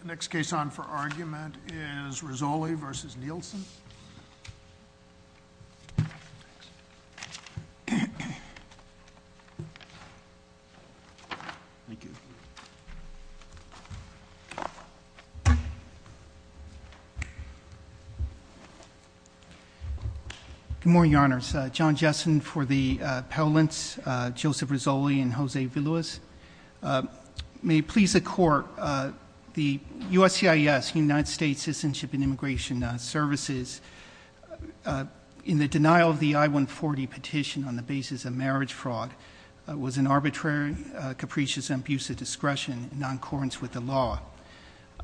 The next case on for argument is Risoli v. Nielsen. Good morning, Your Honors. John Jessen for the Parliaments, Joseph Risoli and Jose Villalobos. May it please the Court, the USCIS, United States Citizenship and Immigration Services, in the denial of the I-140 petition on the basis of marriage fraud, was an arbitrary, capricious abuse of discretion in non-accordance with the law.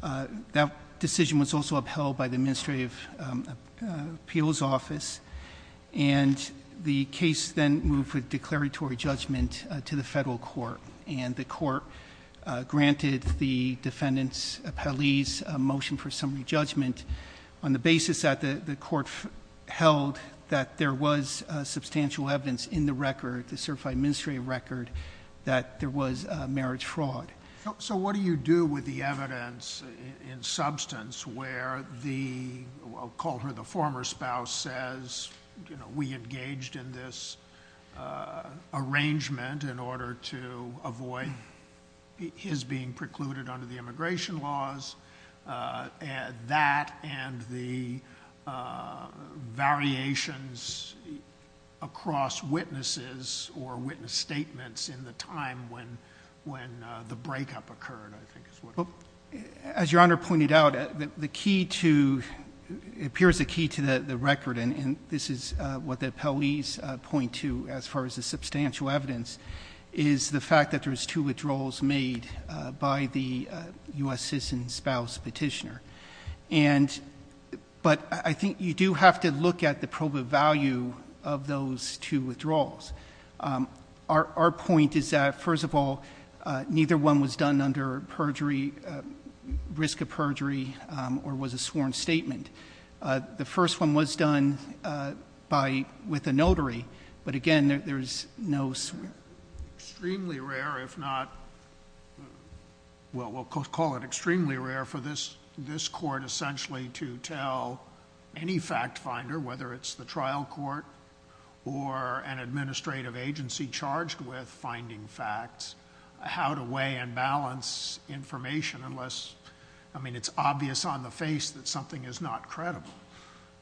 That decision was also upheld by the Administrative Appeals Office, and the case then moved with declaratory judgment to the federal court, and the court granted the defendant's appellee's motion for summary judgment on the basis that the court held that there was substantial evidence in the record, the certified administrative record, that there was marriage fraud. So what do you do with the evidence in substance where the, I'll call her the former spouse, says, you know, we engaged in this arrangement in order to avoid his being precluded under the immigration laws, that and the variations across witnesses or witness statements in the time when the breakup occurred, I think is what it is. As Your Honor pointed out, the key to, it appears a key to the record, and this is what the appellees point to as far as the substantial evidence, is the fact that there's two withdrawals made by the U.S. citizen spouse petitioner. And, but I think you do have to look at the proba value of those two withdrawals. Our point is that, first of all, neither one was done under perjury, risk of perjury, or was a sworn statement. The first one was done with a notary, but again, there's no. Extremely rare, if not, well, we'll call it extremely rare for this court essentially to tell any fact finder, whether it's the trial court or an administrative agency charged with finding facts, how to weigh and balance information unless, I mean, it's obvious on the face that something is not credible.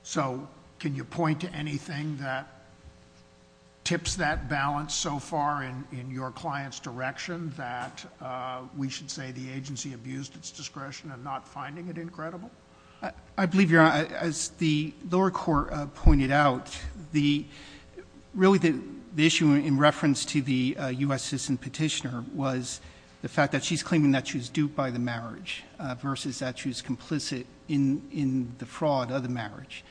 So can you point to anything that tips that balance so far in your client's direction that we should say the agency abused its discretion and not finding it incredible? I believe, Your Honor, as the lower court pointed out, the, really the issue in reference to the U.S. citizen petitioner was the fact that she's claiming that she was duped by the marriage versus that she was complicit in the fraud of the marriage.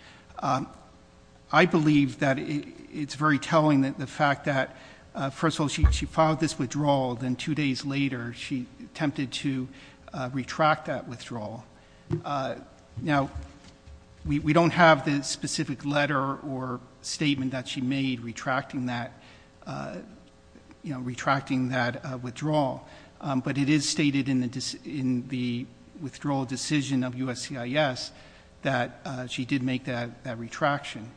I believe that it's very telling that the fact that, first of all, she filed this withdrawal, then two days later she attempted to retract that withdrawal. Now, we don't have the specific letter or the petitioner, you know, retracting that withdrawal, but it is stated in the withdrawal decision of USCIS that she did make that retraction.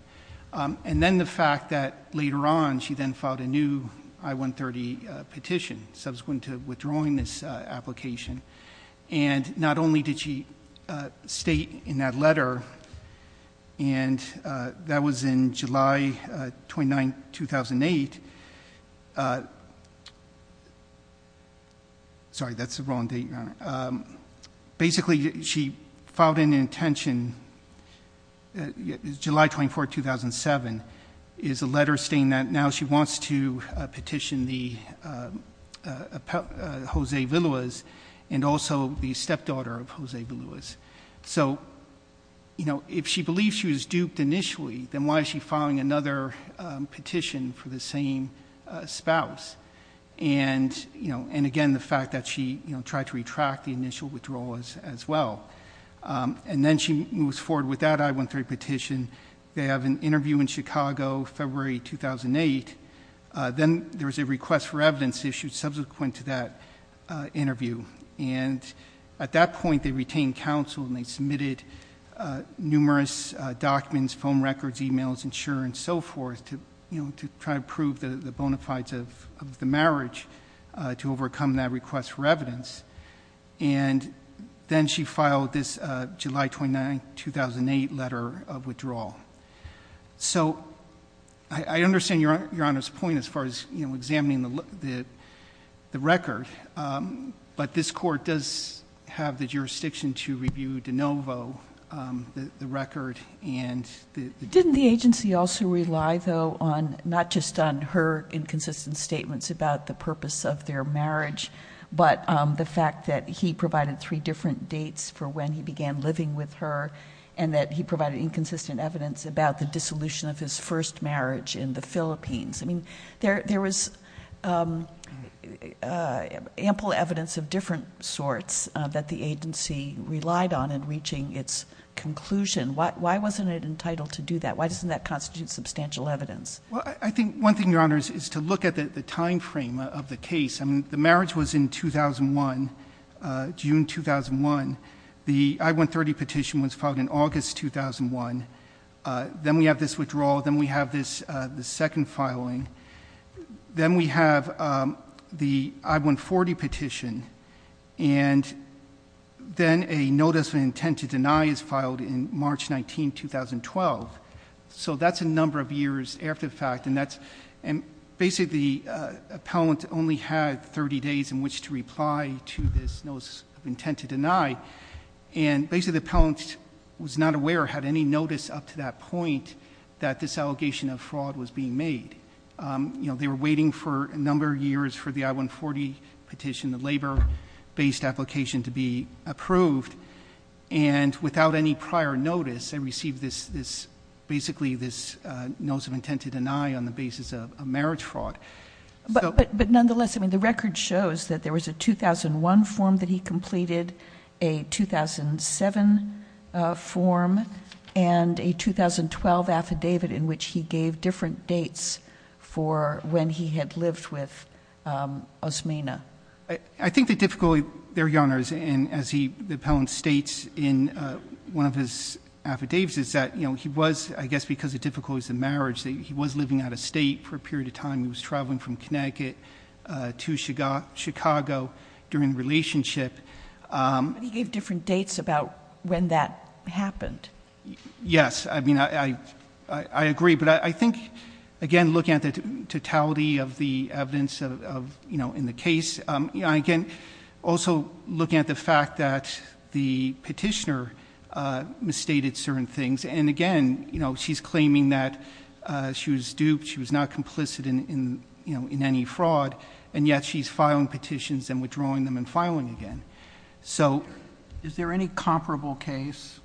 And then the fact that later on she then filed a new I-130 petition subsequent to withdrawing this application. And not only did she state in that letter, and that was in July 29, 2008. Sorry, that's the wrong date, Your Honor. Basically she filed an intention, July 24, 2007, is a letter stating that now she wants to petition the, Jose Villalobos and also the stepdaughter of Jose Villalobos. So, you know, if she believes she was duped initially, then why is she filing another petition for the same spouse? And, you know, and again the fact that she, you know, tried to retract the initial withdrawal as well. And then she moves forward with that I-130 petition. They have an interview in Chicago, February 2008. Then there was a request for evidence issued subsequent to that interview. And at that point they retained counsel and they submitted numerous documents, phone records, e-mails, insurance, so forth, to, you know, to try to prove the bona fides of the marriage to overcome that request for evidence. And then she filed this July 29, 2008 letter of withdrawal. So, I understand Your Honor's point as far as, you know, examining the record. But this court does have the jurisdiction to review de novo the record and the... Didn't the agency also rely, though, on, not just on her inconsistent statements about the purpose of their marriage, but the fact that he provided three different dates for when he began living with her and that he provided inconsistent evidence about the dissolution of his first marriage in the Philippines? I mean, there was ample evidence of different sorts that the agency relied on in reaching its conclusion. Why wasn't it entitled to do that? Why doesn't that constitute substantial evidence? Well, I think one thing, Your Honor, is to look at the timeframe of the case. I mean, the marriage was in 2001, June 2001. The I-130 petition was filed in August 2001. Then we have this withdrawal. Then we have this second filing. Then we have the I-140 petition. And then a notice of intent to deny is filed in March 19, 2012. So that's a number of years after the fact. And basically, the appellant only had 30 days in which to reply to this notice of intent to deny. And basically, the appellant was not aware, had any notice up to that point, that this allegation of fraud was being made. You know, they were waiting for a number of years for the I-140 petition, the labor-based application, to be approved. And without any prior notice, they received this, basically, this notice of intent to deny on the basis of a marriage fraud. But nonetheless, I mean, the record shows that there was a 2001 form that he completed, a 2007 form, and a 2008 form that he completed. And a 2012 affidavit in which he gave different dates for when he had lived with Osmena. I think the difficulty there, Your Honors, and as the appellant states in one of his affidavits, is that he was, I guess because of difficulties in marriage, that he was living out of state for a period of time. He was traveling from Connecticut to Chicago during the relationship. But he gave different dates about when that happened. Yes. I mean, I agree. But I think, again, looking at the totality of the evidence of, you know, in the case, again, also looking at the fact that the petitioner misstated certain things. And again, you know, she's claiming that she was duped, she was not complicit in, you know, in any fraud, and yet she's filing petitions and withdrawing them and filing again. So is there any comparable case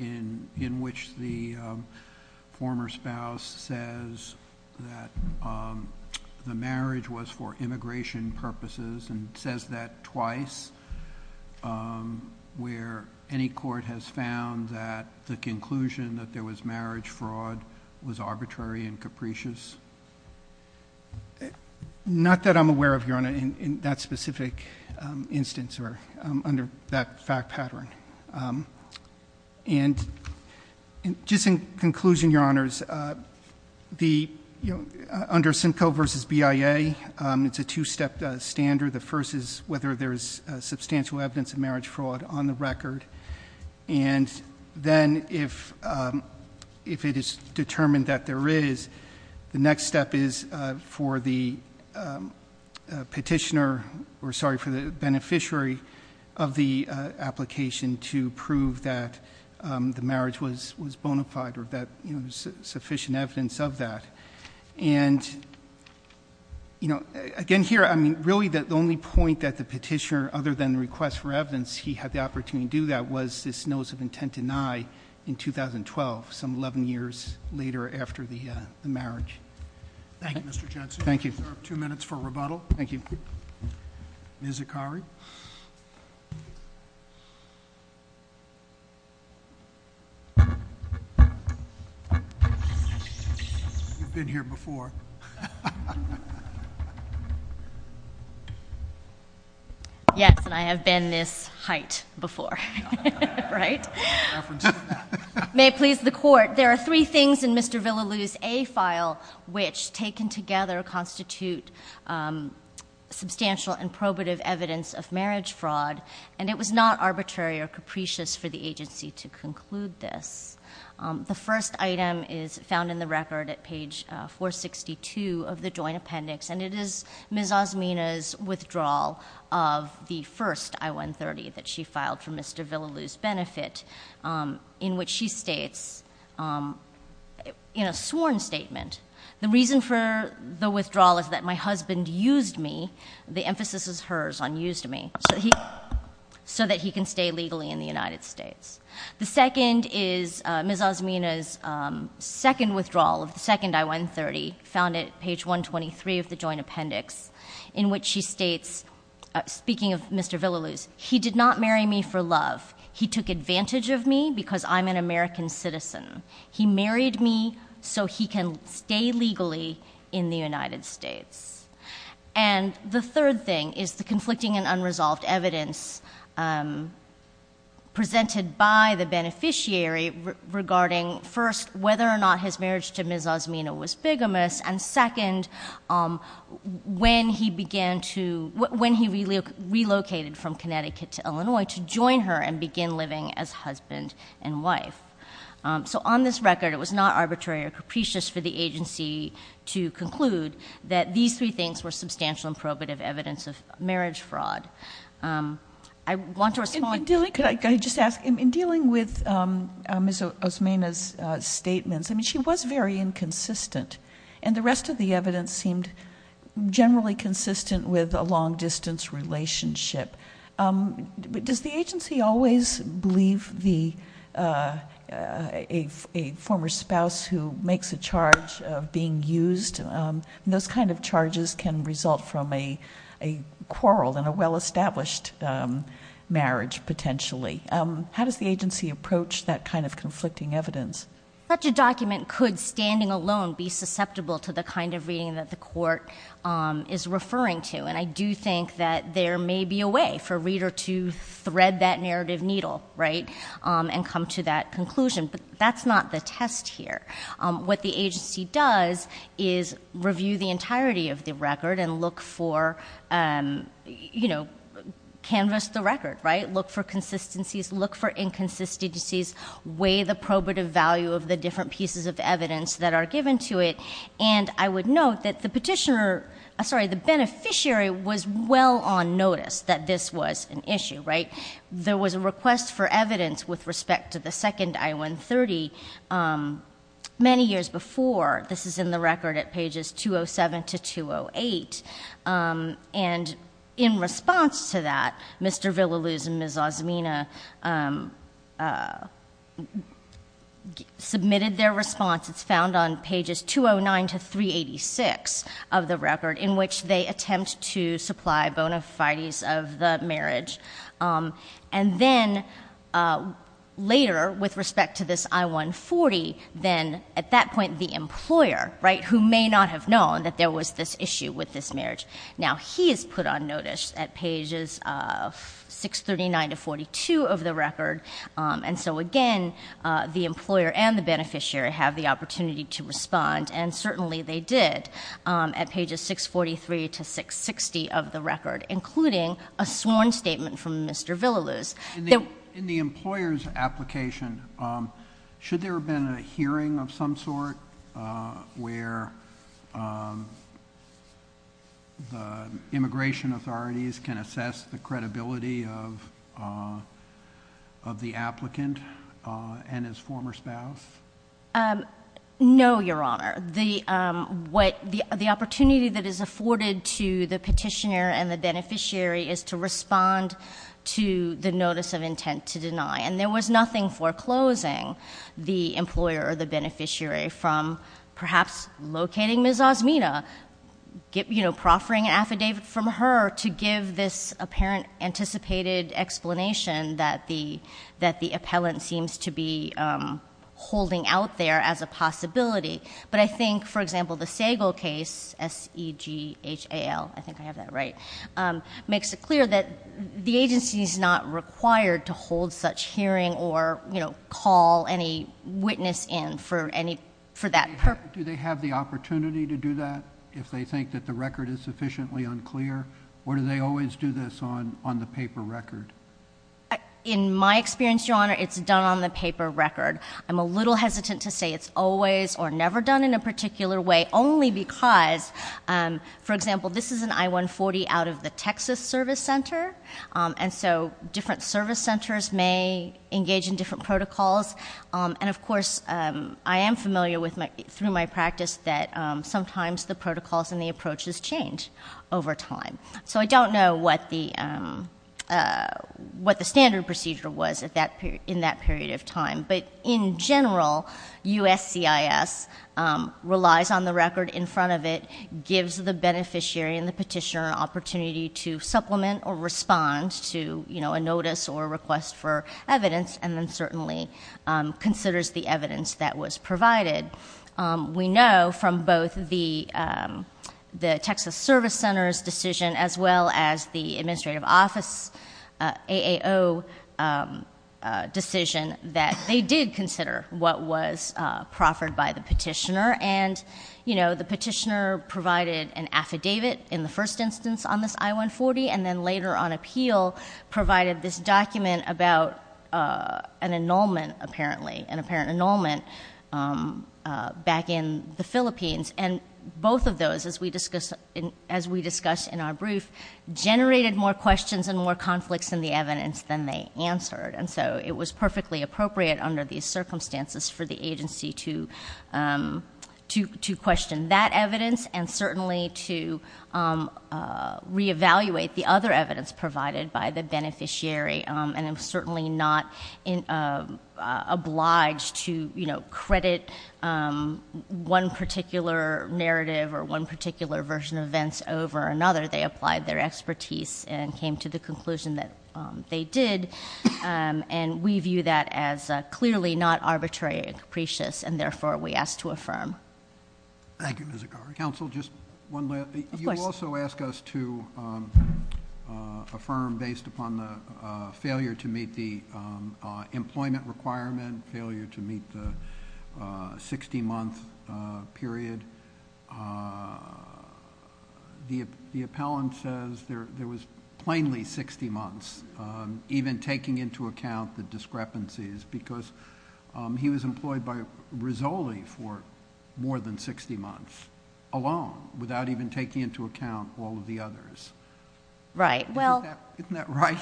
in which the former spouse says that the marriage was for immigration purposes, and says that twice, where any court has found that the conclusion that there was marriage fraud was arbitrary and capricious? Not that I'm aware of, Your Honor, in that specific instance or under that fact pattern. And just in conclusion, Your Honors, the, you know, under Simcoe v. BIA, it's a two-step standard. The first is whether there's substantial evidence of marriage fraud on the record. And then if it is determined that there is, the next step is for the petitioner, or sorry, for the beneficiary of the application to prove that the marriage was bona fide or that, you know, there's sufficient evidence of that. And, you know, again, here, I mean, really the only point that the petitioner, other than the request for evidence, he had the evidence that there was this notice of intent denied in 2012, some 11 years later after the marriage. Thank you, Mr. Johnson. Thank you. Two minutes for rebuttal. Thank you. Ms. Akari. You've been here before. Yes, and I have been this height before. Right? May it please the Court, there are three things in Mr. Villaloo's A file which taken together constitute substantial and probative evidence of marriage fraud, and it was not arbitrary or capricious for the agency to conclude this. The first item is found in the record at page 462 of the Joint Appendix, and it is Ms. Ozmina's withdrawal of the first I-130 that she filed for Mr. Villaloo's benefit, in which she states, in a sworn statement, the reason for the withdrawal is that my husband used me, the emphasis is hers on used me, so that he can stay legally in the United States. The second is Ms. Ozmina's second withdrawal of the second I-130 found at page 123 of the Joint Appendix, and it is Ms. Ozmina's withdrawal of the first I-130 that she filed for love. He took advantage of me because I'm an American citizen. He married me so he can stay legally in the United States. And the third thing is the conflicting and unresolved evidence presented by the beneficiary regarding, first, whether or not his marriage to Ms. Ozmina was bigamous, and, second, when he began to, when he relocated from Connecticut to Illinois to join her and begin living as husband and wife. So on this record, it was not arbitrary or capricious for the agency to conclude that these three things were substantial and probative evidence of marriage fraud. I want to respond. In dealing with Ms. Ozmina's statements, I mean, she was very inconsistent, and the rest of the evidence seemed generally consistent with a long-distance relationship. Does the agency always believe a former spouse who makes a charge of being used, those kind of things? Potentially. How does the agency approach that kind of conflicting evidence? Such a document could, standing alone, be susceptible to the kind of reading that the court is referring to. And I do think that there may be a way for a reader to thread that narrative needle, right, and come to that conclusion. But that's not the test here. What the agency does is review the entirety of the record and look for, you know, canvas the record, right, look for consistencies, look for inconsistencies, weigh the probative value of the different pieces of evidence that are given to it. And I would note that the petitioner, sorry, the beneficiary was well on notice that this was an issue, right? There was a request for evidence with respect to the second I-130 many years before. This is in the record at pages 207 to 208. And in response to that, Mr. Villalooz and Ms. Ozmina submitted their response. It's found on pages 209 to 386 of the record, in which they attempt to supply bona fides of the marriage. And then later, with respect to this I-140, then at that point the employer, right, who may not have known that there was this issue with this marriage, now he is put on notice at pages 639 to 642 of the record. And so again, the employer and the beneficiary have the opportunity to respond, and certainly they did, at pages 643 to 660 of the record, including a sworn statement from Mr. Villalooz. In the employer's application, should there have been a hearing of some sort where the immigration authorities can assess the credibility of the applicant and his former spouse? No, Your Honor. The opportunity that is afforded to the petitioner and the beneficiary is to deny. And there was nothing foreclosing the employer or the beneficiary from perhaps locating Ms. Ozmina, you know, proffering an affidavit from her to give this apparent anticipated explanation that the appellant seems to be holding out there as a possibility. But I think, for example, the Sagal case, S-E-G-H-A-L, I think I have that right, makes it clear that the agency is not required to hold such hearing or, you know, call any witness in for that purpose. Do they have the opportunity to do that if they think that the record is sufficiently unclear, or do they always do this on the paper record? In my experience, Your Honor, it's done on the paper record. I'm a little hesitant to say it's always or never done in a particular way, only because, for example, this is an I-140 out of the Texas Service Center, and so different service centers may engage in different protocols. And, of course, I am familiar with, through my practice, that sometimes the protocols and the approaches change over time. So I don't know what the standard procedure was in that period of time. But in general, USCIS relies on the record in front of it, gives the beneficiary and the petitioner an opportunity to supplement or respond to, you know, a notice or a request for evidence, and then certainly considers the evidence that was provided. We know from both the Texas Service Center's decision as well as the Administrative Office's AAO decision that they did consider what was proffered by the petitioner. And, you know, the petitioner provided an affidavit in the first instance on this I-140, and then later on appeal provided this document about an annulment, apparently, an apparent annulment back in the Philippines. And both of those, as we discussed in our brief, generated more questions and more conflicts in the evidence than they answered. And so it was perfectly appropriate under these circumstances for the agency to question that evidence and certainly to re-evaluate the other evidence provided by the beneficiary. And I'm certainly not obliged to, you know, credit one particular narrative or one particular version of events over another. They applied their expertise and came to the conclusion that they did. And we view that as clearly not arbitrary and capricious, and therefore we ask to affirm. Thank you, Ms. Aghari. Counsel, just one last thing. Of course. You also ask us to affirm based upon the failure to meet the employment requirement, failure to meet the 60-month period. The appellant says there was plainly 60 months, even to taking into account the discrepancies, because he was employed by Rizzoli for more than 60 months alone, without even taking into account all of the others. Right. Isn't that right?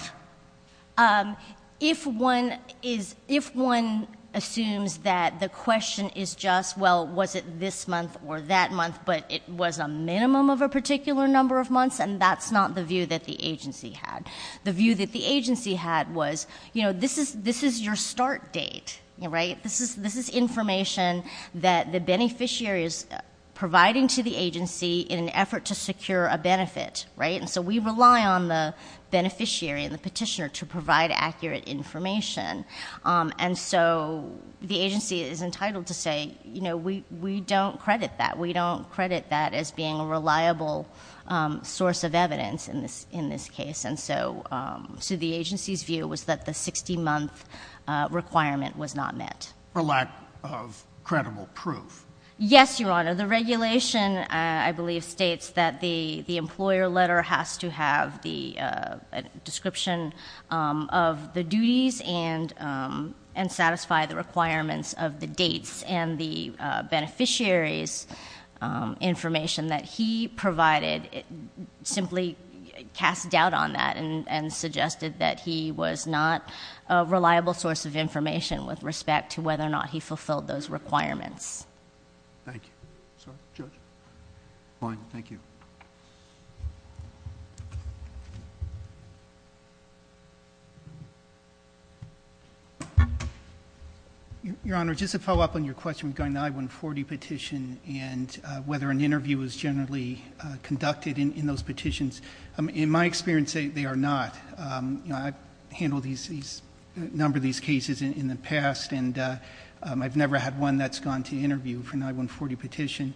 If one assumes that the question is just, well, was it this month or that month, but it was a minimum of a particular number of months, and that's not the view that the agency had. The view that the agency had was, you know, this is your start date, right? This is information that the beneficiary is providing to the agency in an effort to secure a benefit, right? And so we rely on the beneficiary and the petitioner to provide accurate information. And so the agency is entitled to say, you know, we don't credit that. We don't credit that as being a reliable source of evidence in this case. And so the agency's view was that the 60-month requirement was not met. For lack of credible proof. Yes, Your Honor. The regulation, I believe, states that the employer letter has to have the description of the duties and satisfy the requirements of the dates and the beneficiaries information that he provided. Simply cast doubt on that and suggested that he was not a reliable source of information with respect to whether or not he fulfilled those requirements. Thank you. Judge? Fine. Thank you. Your Honor, just to follow up on your question regarding the I-140 petition. And whether an interview is generally conducted in those petitions. In my experience, they are not. I've handled a number of these cases in the past. And I've never had one that's gone to interview for an I-140 petition.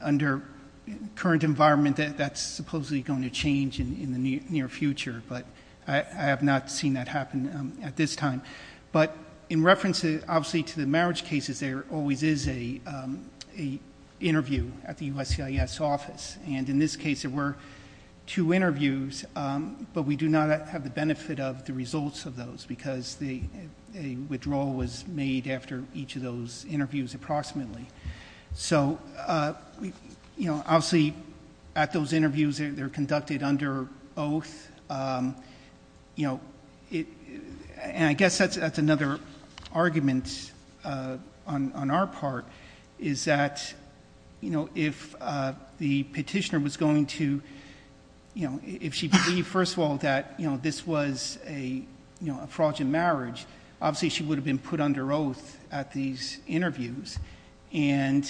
Under current environment, that's supposedly going to change in the near future. But I have not seen that happen at this time. But in reference, obviously, to the marriage cases, there always is an interview at the USCIS office. And in this case, there were two interviews. But we do not have the benefit of the results of those. Because a withdrawal was made after each of those interviews approximately. So obviously, at those interviews, they're conducted under oath. And I guess that's another argument on our part. Is that if the petitioner was going to, if she believed, first of all, that this was a fraudulent marriage, obviously, she would have been put under oath at these interviews. But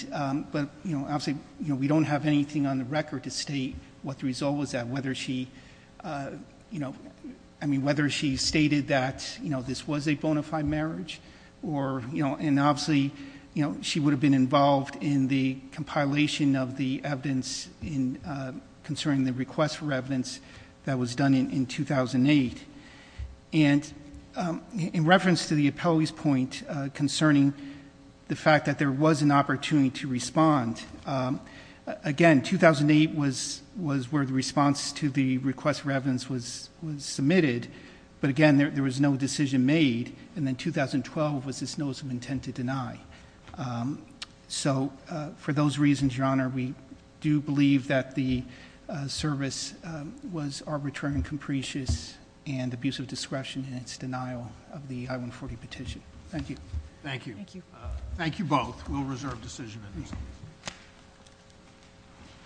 obviously, we don't have anything on the record to state what the result was at. Whether she stated that this was a bona fide marriage. And obviously, she would have been involved in the compilation of the evidence concerning the request for evidence that was done in 2008. And in reference to the appellee's point concerning the fact that there was an opportunity to respond, again, 2008 was where the response to the request for evidence was submitted. But again, there was no decision made. And then 2012 was this notice of intent to deny. So for those reasons, Your Honor, we do believe that the service was arbitrary and capricious and abusive discretion in its denial of the I-140 petition. Thank you. Thank you. Thank you. Thank you both. We'll reserve decision at this time.